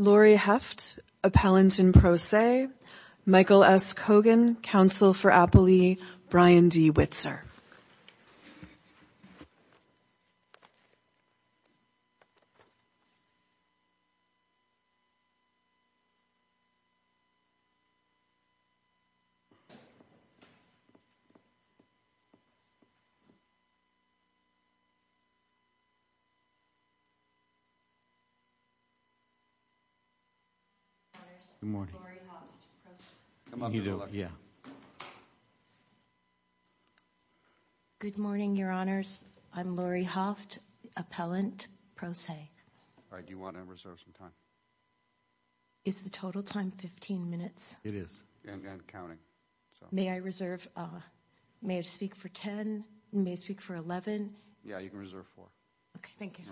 Lori Heft, Appellant in Pro Se Michael S. Kogan, Counsel for Appalachian Brian D. Witzer Lori Heft, Appellant in Pro Se Good morning, your honors. I'm Lori Heft, Appellant, Pro Se. Do you want to reserve some time? Is the total time 15 minutes? It is. And counting. May I speak for 10? May I speak for 11? Yeah, you can reserve four. Okay, thank you.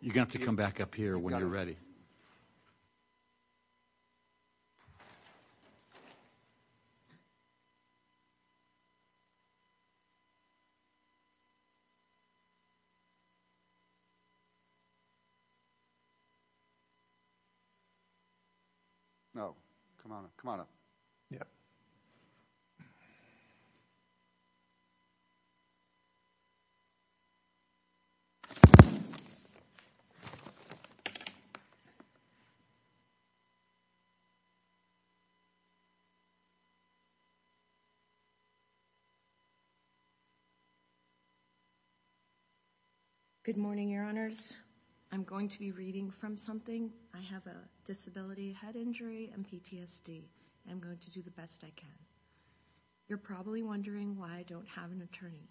You're going to have to come back up here when you're ready. No, come on up. Yep. Good morning, your honors. I'm going to be reading from something. I have a disability, head injury, and PTSD. I'm going to do the best I can. You're probably wondering why I don't have an attorney.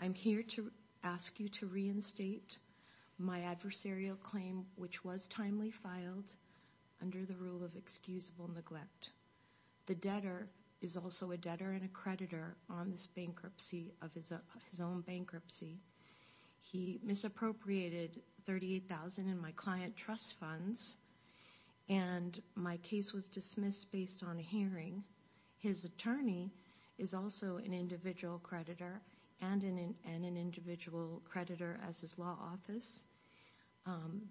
I'm here to ask you to reinstate my adversarial claim, which was timely filed under the rule of excusable neglect. The debtor is also a debtor and a creditor on this bankruptcy of his own bankruptcy. He misappropriated $38,000 in my client trust funds, and my case was dismissed based on a hearing. His attorney is also an individual creditor and an individual creditor as his law office.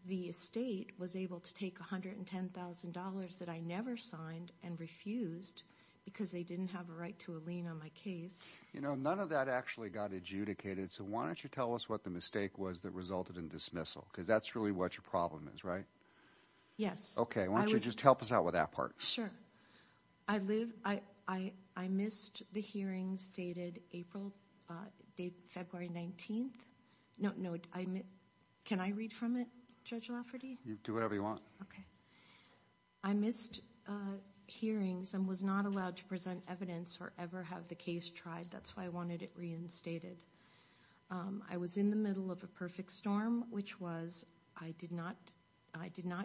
The estate was able to take $110,000 that I never signed and refused because they didn't have a right to a lien on my case. You know, none of that actually got adjudicated, so why don't you tell us what the mistake was that resulted in dismissal? Because that's really what your problem is, right? Yes. Okay, why don't you just help us out with that part? Sure. I missed the hearings dated February 19th. No, can I read from it, Judge Lafferty? Do whatever you want. I missed hearings and was not allowed to present evidence or ever have the case tried. That's why I wanted it reinstated. I was in the middle of a perfect storm, which was I did not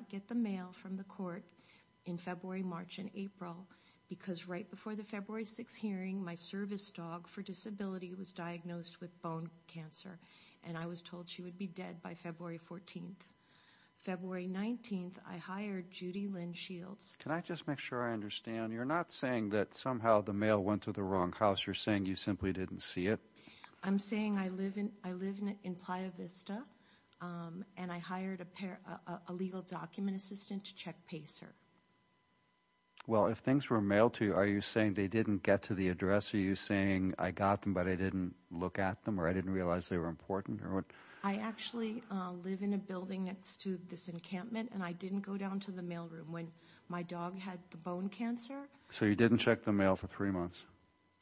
get the mail from the court in February, March, and April, because right before the February 6th hearing, my service dog for disability was diagnosed with bone cancer, and I was told she would be dead by February 14th. February 19th, I hired Judy Lynn Shields. Can I just make sure I understand? You're not saying that somehow the mail went to the wrong house. You're saying you simply didn't see it? I'm saying I live in Playa Vista, and I hired a legal document assistant to check pace her. Well, if things were mailed to you, are you saying they didn't get to the address? Are you saying I got them but I didn't look at them or I didn't realize they were important? I actually live in a building next to this encampment, and I didn't go down to the mail room. My dog had the bone cancer. So you didn't check the mail for three months?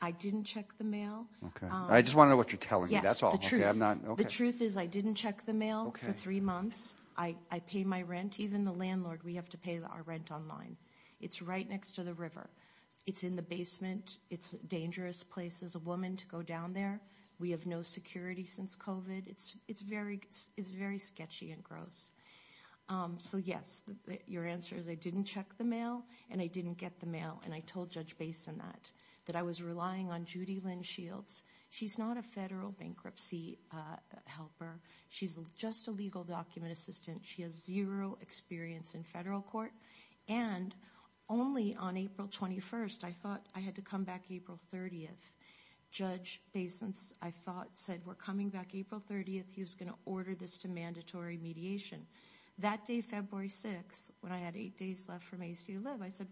I didn't check the mail. I just want to know what you're telling me. The truth is I didn't check the mail for three months. I pay my rent. Even the landlord, we have to pay our rent online. It's right next to the river. It's in the basement. It's a dangerous place as a woman to go down there. We have no security since COVID. It's very sketchy and gross. So, yes, your answer is I didn't check the mail and I didn't get the mail, and I told Judge Basin that, that I was relying on Judy Lynn Shields. She's not a federal bankruptcy helper. She's just a legal document assistant. She has zero experience in federal court. And only on April 21st, I thought I had to come back April 30th. Judge Basin, I thought, said, we're coming back April 30th. He was going to order this to mandatory mediation. That day, February 6th, when I had eight days left for me to live, I said,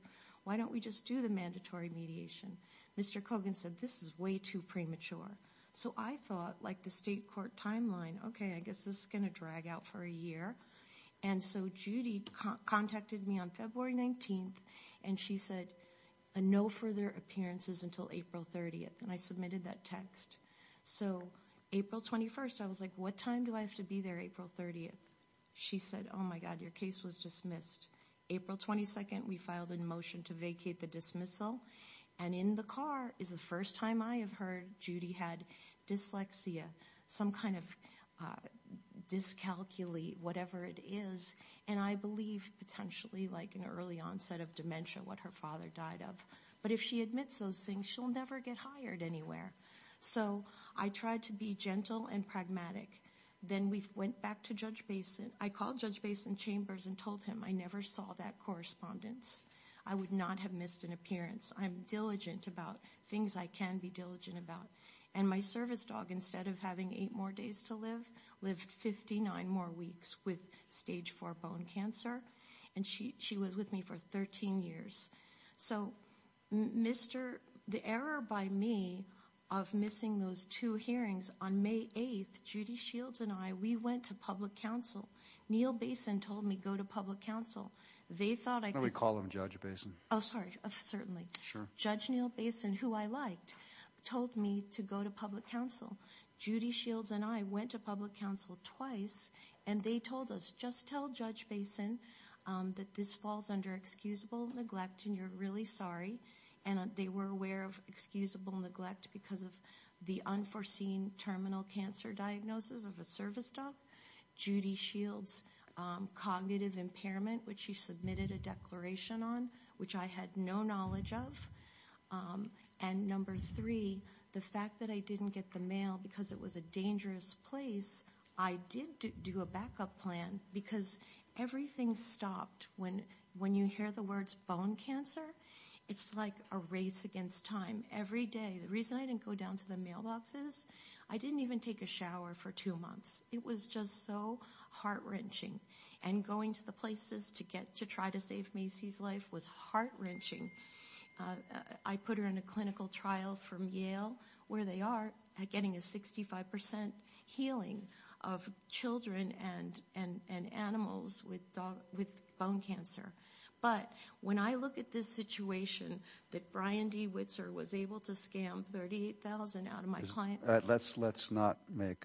why don't we just do the mandatory mediation? Mr. Kogan said, this is way too premature. So I thought, like the state court timeline, okay, I guess this is going to drag out for a year. And so Judy contacted me on February 19th, and she said, no further appearances until April 30th. And I submitted that text. So April 21st, I was like, what time do I have to be there April 30th? She said, oh, my God, your case was dismissed. April 22nd, we filed a motion to vacate the dismissal. And in the car is the first time I have heard Judy had dyslexia, some kind of dyscalculia, whatever it is. And I believe potentially like an early onset of dementia, what her father died of. But if she admits those things, she'll never get hired anywhere. So I tried to be gentle and pragmatic. Then we went back to Judge Basin. I called Judge Basin Chambers and told him I never saw that correspondence. I would not have missed an appearance. I'm diligent about things I can be diligent about. And my service dog, instead of having eight more days to live, lived 59 more weeks with stage four bone cancer. And she was with me for 13 years. So the error by me of missing those two hearings on May 8th, Judy Shields and I, we went to public council. Neil Basin told me go to public council. They thought I could. Why don't we call him Judge Basin? Oh, sorry. Certainly. Sure. Judge Neil Basin, who I liked, told me to go to public council. Judy Shields and I went to public council twice. And they told us just tell Judge Basin that this falls under excusable neglect and you're really sorry. And they were aware of excusable neglect because of the unforeseen terminal cancer diagnosis of a service dog. Judy Shields' cognitive impairment, which she submitted a declaration on, which I had no knowledge of. And number three, the fact that I didn't get the mail because it was a backup plan because everything stopped. When you hear the words bone cancer, it's like a race against time. Every day. The reason I didn't go down to the mailboxes, I didn't even take a shower for two months. It was just so heart-wrenching. And going to the places to get to try to save Macy's life was heart-wrenching. I put her in a clinical trial from Yale, where they are, getting a 65% healing of children and animals with bone cancer. But when I look at this situation, that Brian D. Witzer was able to scam $38,000 out of my client. Let's not make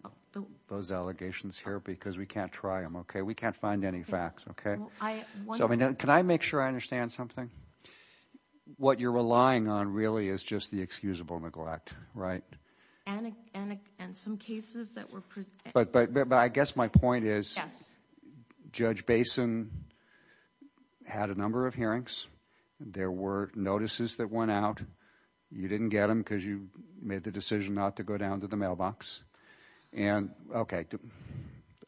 those allegations here because we can't try them, okay? We can't find any facts, okay? Can I make sure I understand something? What you're relying on really is just the excusable neglect, right? And some cases that were presented. But I guess my point is Judge Basin had a number of hearings. There were notices that went out. You didn't get them because you made the decision not to go down to the mailbox. And, okay,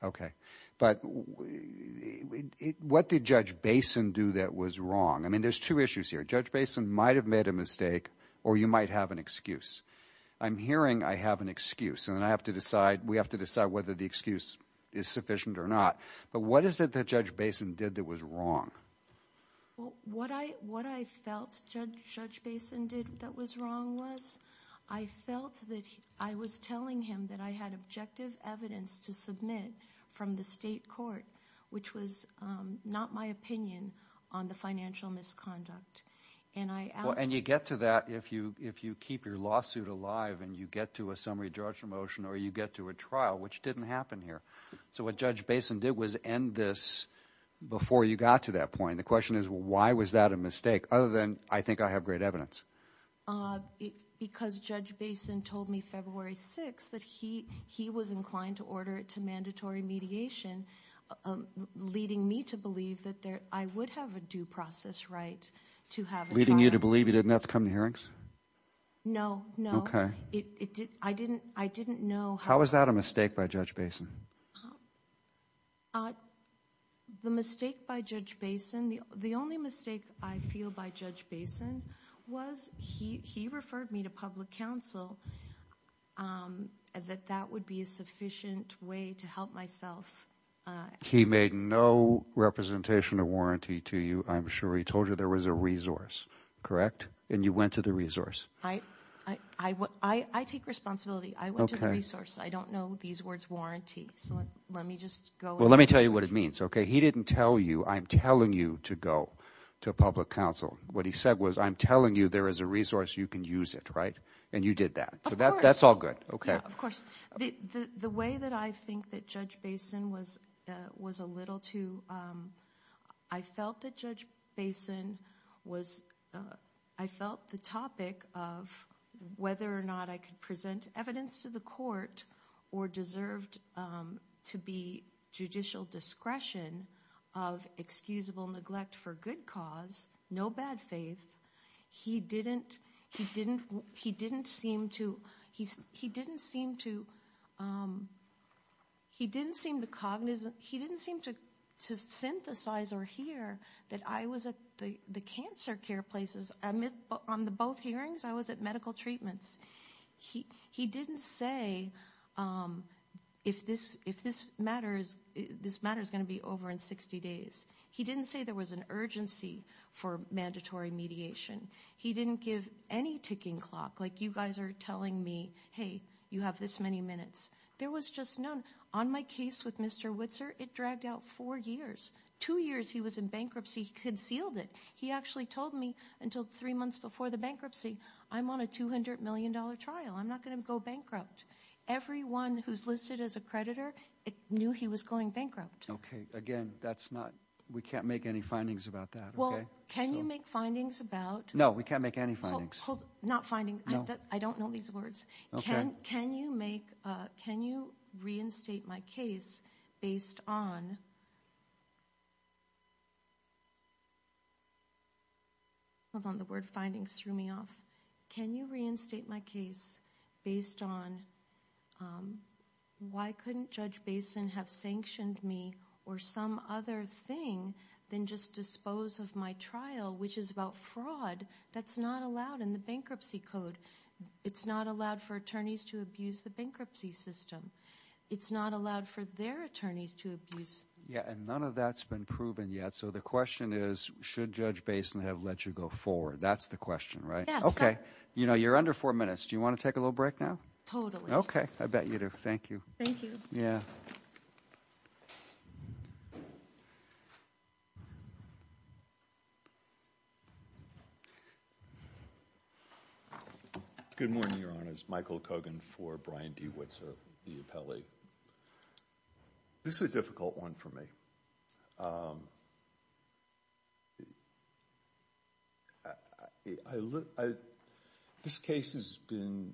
okay. But what did Judge Basin do that was wrong? I mean, there's two issues here. Judge Basin might have made a mistake or you might have an excuse. I'm hearing I have an excuse. And I have to decide, we have to decide whether the excuse is sufficient or not. But what is it that Judge Basin did that was wrong? What I felt Judge Basin did that was wrong was I felt that I was telling him that I had objective evidence to submit from the state court, which was not my opinion on the financial misconduct. And I asked him. And you get to that if you keep your lawsuit alive and you get to a summary judgment motion or you get to a trial, which didn't happen here. So what Judge Basin did was end this before you got to that point. The question is why was that a mistake other than I think I have great evidence? Because Judge Basin told me February 6th that he was inclined to order it as mandatory mediation, leading me to believe that I would have a due process right to have a trial. Leading you to believe you didn't have to come to hearings? No, no. Okay. I didn't know how. How was that a mistake by Judge Basin? The mistake by Judge Basin, the only mistake I feel by Judge Basin was he referred me to public counsel, that that would be a sufficient way to help myself. He made no representation of warranty to you. I'm sure he told you there was a resource, correct? And you went to the resource. I take responsibility. I went to the resource. I don't know these words, warranty. So let me just go with it. Well, let me tell you what it means, okay? He didn't tell you, I'm telling you to go to public counsel. What he said was, I'm telling you there is a resource, you can use it, right? And you did that. Of course. So that's all good, okay. Yeah, of course. The way that I think that Judge Basin was a little too, I felt that Judge Basin was, I felt the topic of whether or not I could present evidence to the court or deserved to be judicial discretion of excusable neglect for good cause, no bad faith. He didn't seem to, he didn't seem to, he didn't seem to cognize, he didn't seem to synthesize or hear that I was at the cancer care places. On the both hearings, I was at medical treatments. He didn't say if this matter is going to be over in 60 days. He didn't say there was an urgency for mandatory mediation. He didn't give any ticking clock, like you guys are telling me, hey, you have this many minutes. There was just none. On my case with Mr. Whitzer, it dragged out four years. Two years he was in bankruptcy, he concealed it. He actually told me until three months before the bankruptcy, I'm on a $200 million trial. I'm not going to go bankrupt. Everyone who's listed as a creditor knew he was going bankrupt. Okay, again, that's not, we can't make any findings about that, okay? Well, can you make findings about? No, we can't make any findings. Hold, not findings. No. I don't know these words. Okay. Can you reinstate my case based on? Hold on, the word findings threw me off. Can you reinstate my case based on why couldn't Judge Basin have sanctioned me or some other thing than just dispose of my trial, which is about fraud? That's not allowed in the bankruptcy code. It's not allowed for attorneys to abuse the bankruptcy system. It's not allowed for their attorneys to abuse. Yeah, and none of that's been proven yet. So the question is, should Judge Basin have let you go forward? That's the question, right? Yes. Okay. You know, you're under four minutes. Do you want to take a little break now? Totally. Okay, I bet you do. Thank you. Thank you. Yeah. Good morning, Your Honors. Michael Kogan for Brian D. Whitzer, the appellee. This is a difficult one for me. This case has been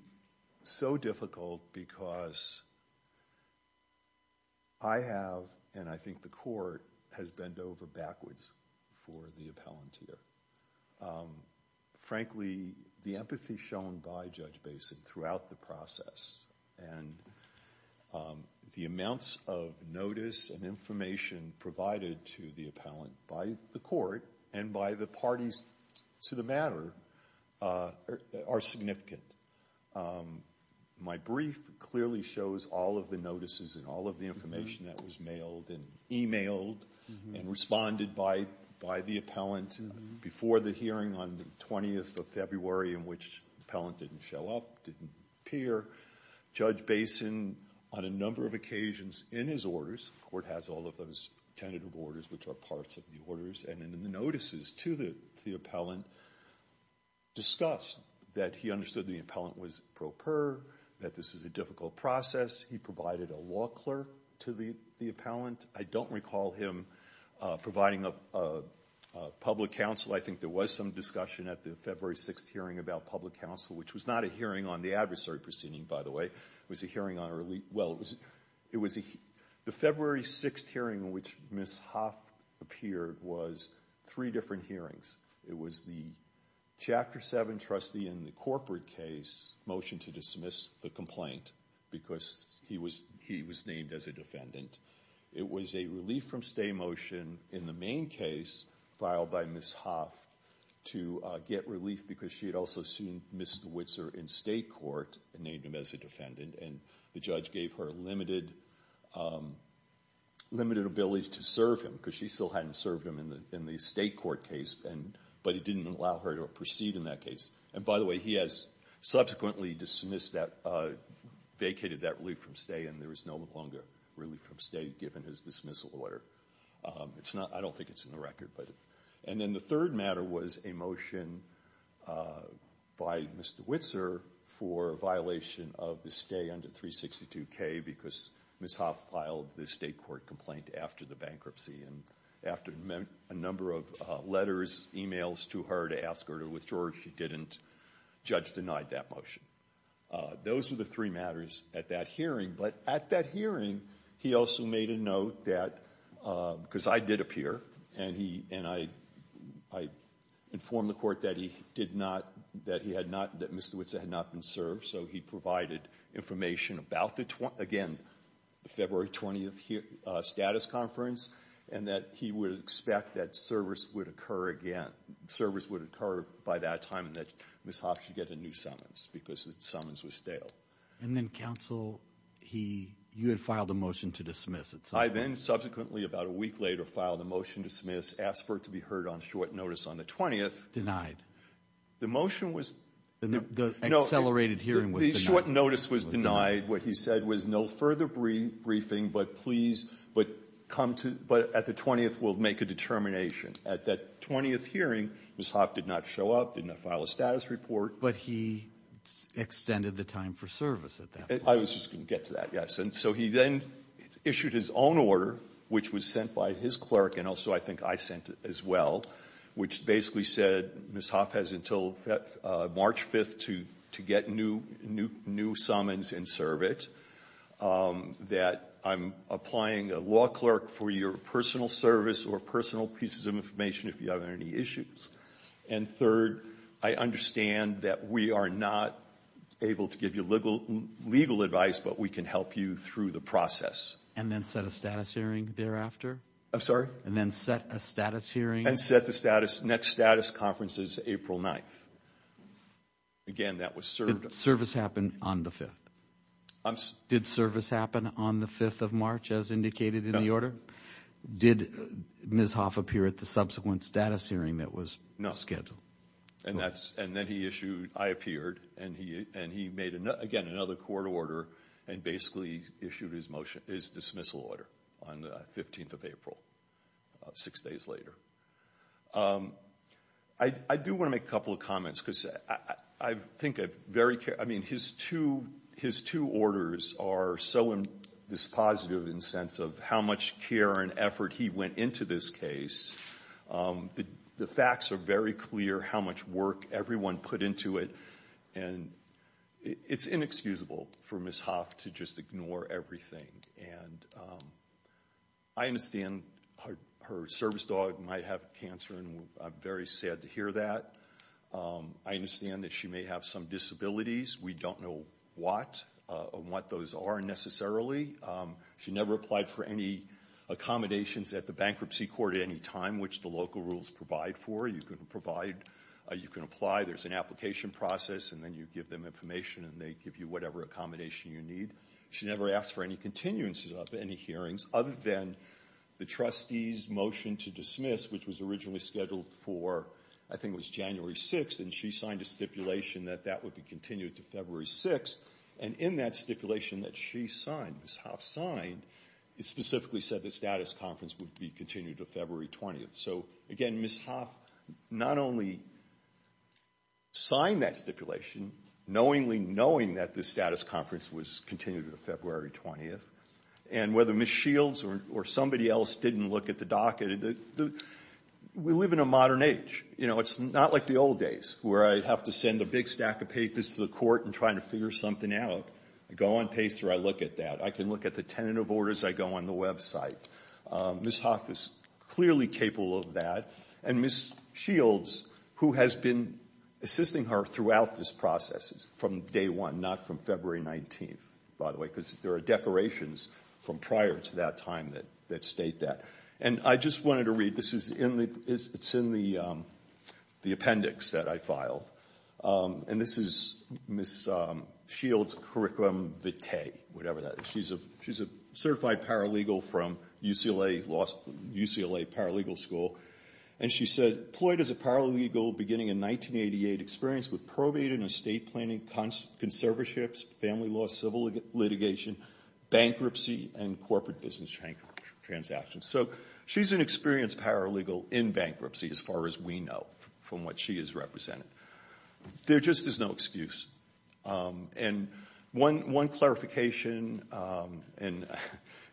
so difficult because I have, and I think the court, has bent over backwards for the appellant here. Frankly, the empathy shown by Judge Basin throughout the process and the amounts of notice and information provided to the appellant by the court and by the parties to the matter are significant. My brief clearly shows all of the notices and all of the information that was mailed and emailed and responded by the appellant before the hearing on the 20th of February in which the appellant didn't show up, didn't appear. Judge Basin, on a number of occasions in his orders, the court has all of those tentative orders which are parts of the orders, and in the notices to the appellant, discussed that he understood the appellant was pro per, that this is a difficult process. He provided a law clerk to the appellant. I don't recall him providing a public counsel. I think there was some discussion at the February 6th hearing about public counsel, which was not a hearing on the adversary proceeding, by the way. It was a hearing on early, well, it was a, the February 6th hearing in which Ms. Hoff appeared was three different hearings. It was the Chapter 7 trustee in the corporate case motion to dismiss the complaint because he was named as a defendant. It was a relief from stay motion in the main case filed by Ms. Hoff to get relief because she had also sued Ms. DeWitzer in state court and named him as a defendant, and the judge gave her limited ability to serve him because she still hadn't served him in the state court case, but it didn't allow her to proceed in that case. And by the way, he has subsequently dismissed that, vacated that relief from stay, and there is no longer relief from stay given his dismissal order. It's not, I don't think it's in the record, but. And then the third matter was a motion by Ms. DeWitzer for a violation of the stay under 362K because Ms. Hoff filed the state court complaint after the bankruptcy, and after a number of letters, e-mails to her to ask her to withdraw, she didn't. Judge denied that motion. Those were the three matters at that hearing, but at that hearing he also made a note that, because I did appear, and I informed the court that he did not, that he had not, that Ms. DeWitzer had not been served, so he provided information about the, again, the February 20th status conference, and that he would expect that service would occur again, service would occur by that time that Ms. Hoff should get a new summons because the summons were stale. And then counsel, he, you had filed a motion to dismiss. I then subsequently, about a week later, filed a motion to dismiss, asked for it to be heard on short notice on the 20th. The motion was. The accelerated hearing was denied. The short notice was denied. What he said was no further briefing, but please, but come to, but at the 20th we'll make a determination. At that 20th hearing, Ms. Hoff did not show up, did not file a status report. But he extended the time for service at that point. I was just going to get to that, yes. And so he then issued his own order, which was sent by his clerk, and also I think I sent as well, which basically said Ms. Hoff has until March 5th to get new summons and serve it, that I'm applying a law clerk for your personal service or personal pieces of information if you have any issues. And third, I understand that we are not able to give you legal advice, but we can help you through the process. And then set a status hearing thereafter? I'm sorry? And then set a status hearing? And set the status, next status conference is April 9th. Again, that was served. Did service happen on the 5th? I'm sorry? Did service happen on the 5th of March as indicated in the order? No. Did Ms. Hoff appear at the subsequent status hearing that was scheduled? And then he issued, I appeared, and he made, again, another court order and basically issued his dismissal order on the 15th of April, six days later. I do want to make a couple of comments because I think I very care. I mean, his two orders are so dispositive in the sense of how much care and effort he went into this case. The facts are very clear how much work everyone put into it, and it's inexcusable for Ms. Hoff to just ignore everything. And I understand her service dog might have cancer, and I'm very sad to hear that. I understand that she may have some disabilities. We don't know what those are necessarily. She never applied for any accommodations at the bankruptcy court at any time, which the local rules provide for. You can apply. There's an application process, and then you give them information, and they give you whatever accommodation you need. She never asked for any continuances of any hearings, other than the trustee's motion to dismiss, which was originally scheduled for I think it was January 6th, and she signed a stipulation that that would be continued to February 6th. And in that stipulation that she signed, Ms. Hoff signed, it specifically said the status conference would be continued to February 20th. So, again, Ms. Hoff not only signed that stipulation, knowingly knowing that the status conference was continued to February 20th, and whether Ms. Shields or somebody else didn't look at the docket, we live in a modern age. It's not like the old days where I'd have to send a big stack of papers to the court and try to figure something out. I go on Pace where I look at that. I can look at the tentative orders. I go on the website. Ms. Hoff is clearly capable of that. And Ms. Shields, who has been assisting her throughout this process from day one, not from February 19th, by the way, because there are decorations from prior to that time that state that. And I just wanted to read this. It's in the appendix that I filed. And this is Ms. Shields' curriculum vitae, whatever that is. She's a certified paralegal from UCLA Paralegal School. And she said, Ployd is a paralegal beginning in 1988, experienced with probate and estate planning, conserverships, family law, civil litigation, bankruptcy, and corporate business transactions. So she's an experienced paralegal in bankruptcy as far as we know from what she has represented. There just is no excuse. And one clarification, and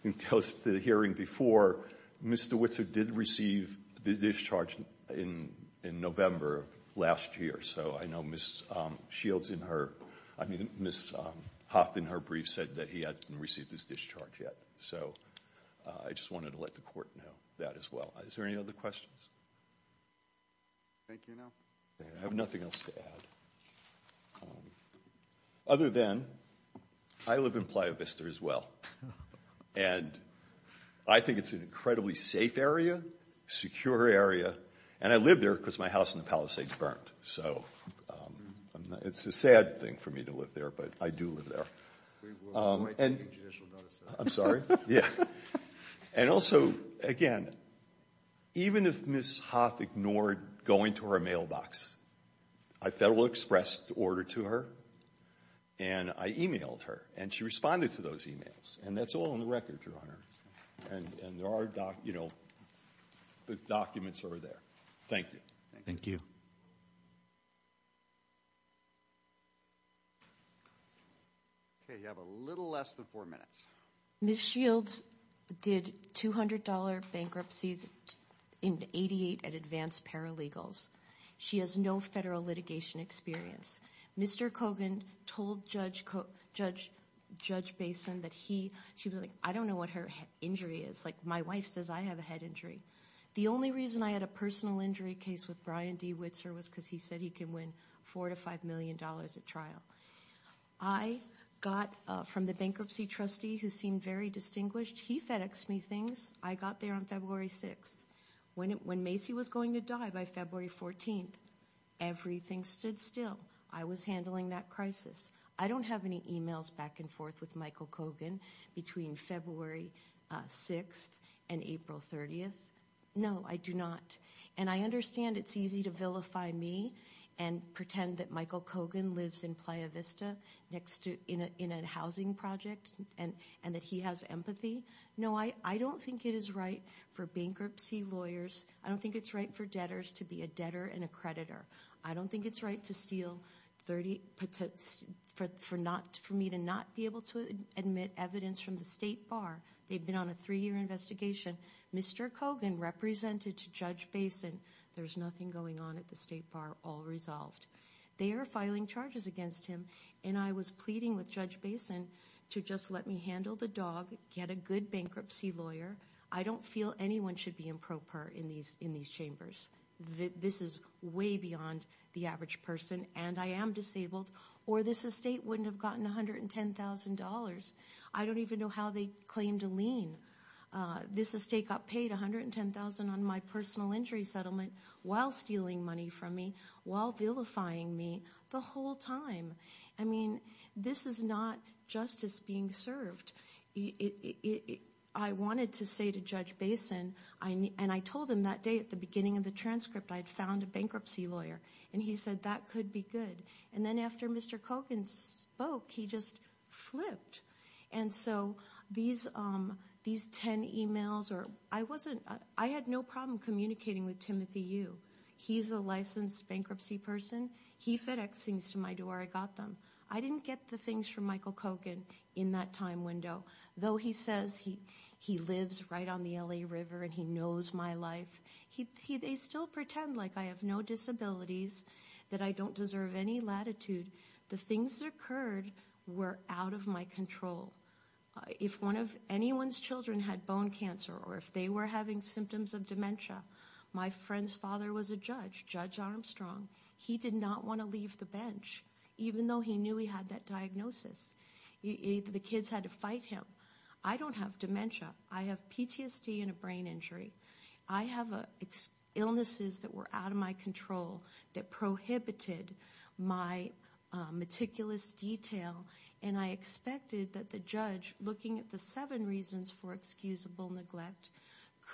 it goes to the hearing before, Ms. DeWitzer did receive the discharge in November of last year. So I know Ms. Shields in her, I mean Ms. Hoff in her brief said that he hadn't received his discharge yet. So I just wanted to let the court know that as well. Is there any other questions? Thank you, now. I have nothing else to add. Other than I live in Playa Vista as well. And I think it's an incredibly safe area, secure area. And I live there because my house in the Palisades burnt. So it's a sad thing for me to live there, but I do live there. I'm sorry, yeah. And also, again, even if Ms. Hoff ignored going to her mailbox, I federal expressed order to her and I emailed her. And she responded to those emails. And that's all on the record, Your Honor. And there are documents over there. Thank you. Thank you. We have a little less than four minutes. Ms. Shields did $200 bankruptcies in 88 at advanced paralegals. She has no federal litigation experience. Mr. Kogan told Judge Basin that he, she was like, I don't know what her injury is. Like my wife says I have a head injury. The only reason I had a personal injury case with Brian D. Witzer was because he said he could win $4 to $5 million at trial. I got from the bankruptcy trustee who seemed very distinguished. He FedExed me things. I got there on February 6th. When Macy was going to die by February 14th, everything stood still. I was handling that crisis. I don't have any emails back and forth with Michael Kogan between February 6th and April 30th. No, I do not. And I understand it's easy to vilify me and pretend that Michael Kogan lives in Playa Vista in a housing project and that he has empathy. No, I don't think it is right for bankruptcy lawyers. I don't think it's right for debtors to be a debtor and a creditor. I don't think it's right to steal 30, for me to not be able to admit evidence from the state bar. They've been on a three-year investigation. Mr. Kogan represented to Judge Basin. There's nothing going on at the state bar. All resolved. They are filing charges against him, and I was pleading with Judge Basin to just let me handle the dog, get a good bankruptcy lawyer. I don't feel anyone should be improper in these chambers. This is way beyond the average person, and I am disabled, or this estate wouldn't have gotten $110,000. I don't even know how they claimed a lien. This estate got paid $110,000 on my personal injury settlement while stealing money from me, while vilifying me the whole time. I mean, this is not justice being served. I wanted to say to Judge Basin, and I told him that day at the beginning of the transcript I had found a bankruptcy lawyer, and he said that could be good. And then after Mr. Kogan spoke, he just flipped. And so these 10 emails, I had no problem communicating with Timothy Yu. He's a licensed bankruptcy person. He FedExed things to my door. I got them. I didn't get the things from Michael Kogan in that time window. Though he says he lives right on the LA River and he knows my life, they still pretend like I have no disabilities, that I don't deserve any latitude. The things that occurred were out of my control. If one of anyone's children had bone cancer or if they were having symptoms of dementia, my friend's father was a judge, Judge Armstrong. He did not want to leave the bench, even though he knew he had that diagnosis. The kids had to fight him. I don't have dementia. I have PTSD and a brain injury. I have illnesses that were out of my control that prohibited my meticulous detail, and I expected that the judge, looking at the seven reasons for excusable neglect,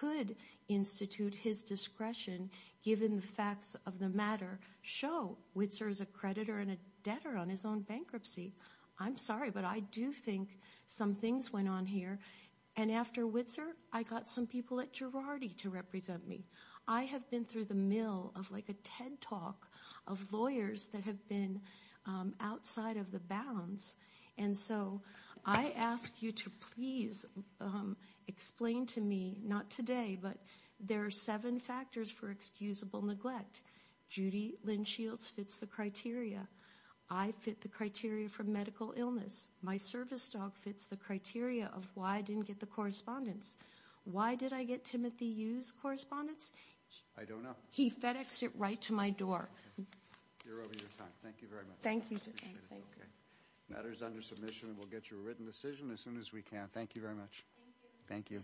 could institute his discretion, given the facts of the matter, show Witzer is a creditor and a debtor on his own bankruptcy. I'm sorry, but I do think some things went on here. And after Witzer, I got some people at Girardi to represent me. I have been through the mill of like a TED Talk of lawyers that have been outside of the bounds. And so I ask you to please explain to me, not today, but there are seven factors for excusable neglect. Judy Lynn Shields fits the criteria. I fit the criteria for medical illness. My service dog fits the criteria of why I didn't get the correspondence. Why did I get Timothy Yu's correspondence? I don't know. He FedExed it right to my door. You're over your time. Thank you very much. Thank you. The matter is under submission, and we'll get you a written decision as soon as we can. Thank you very much. Thank you.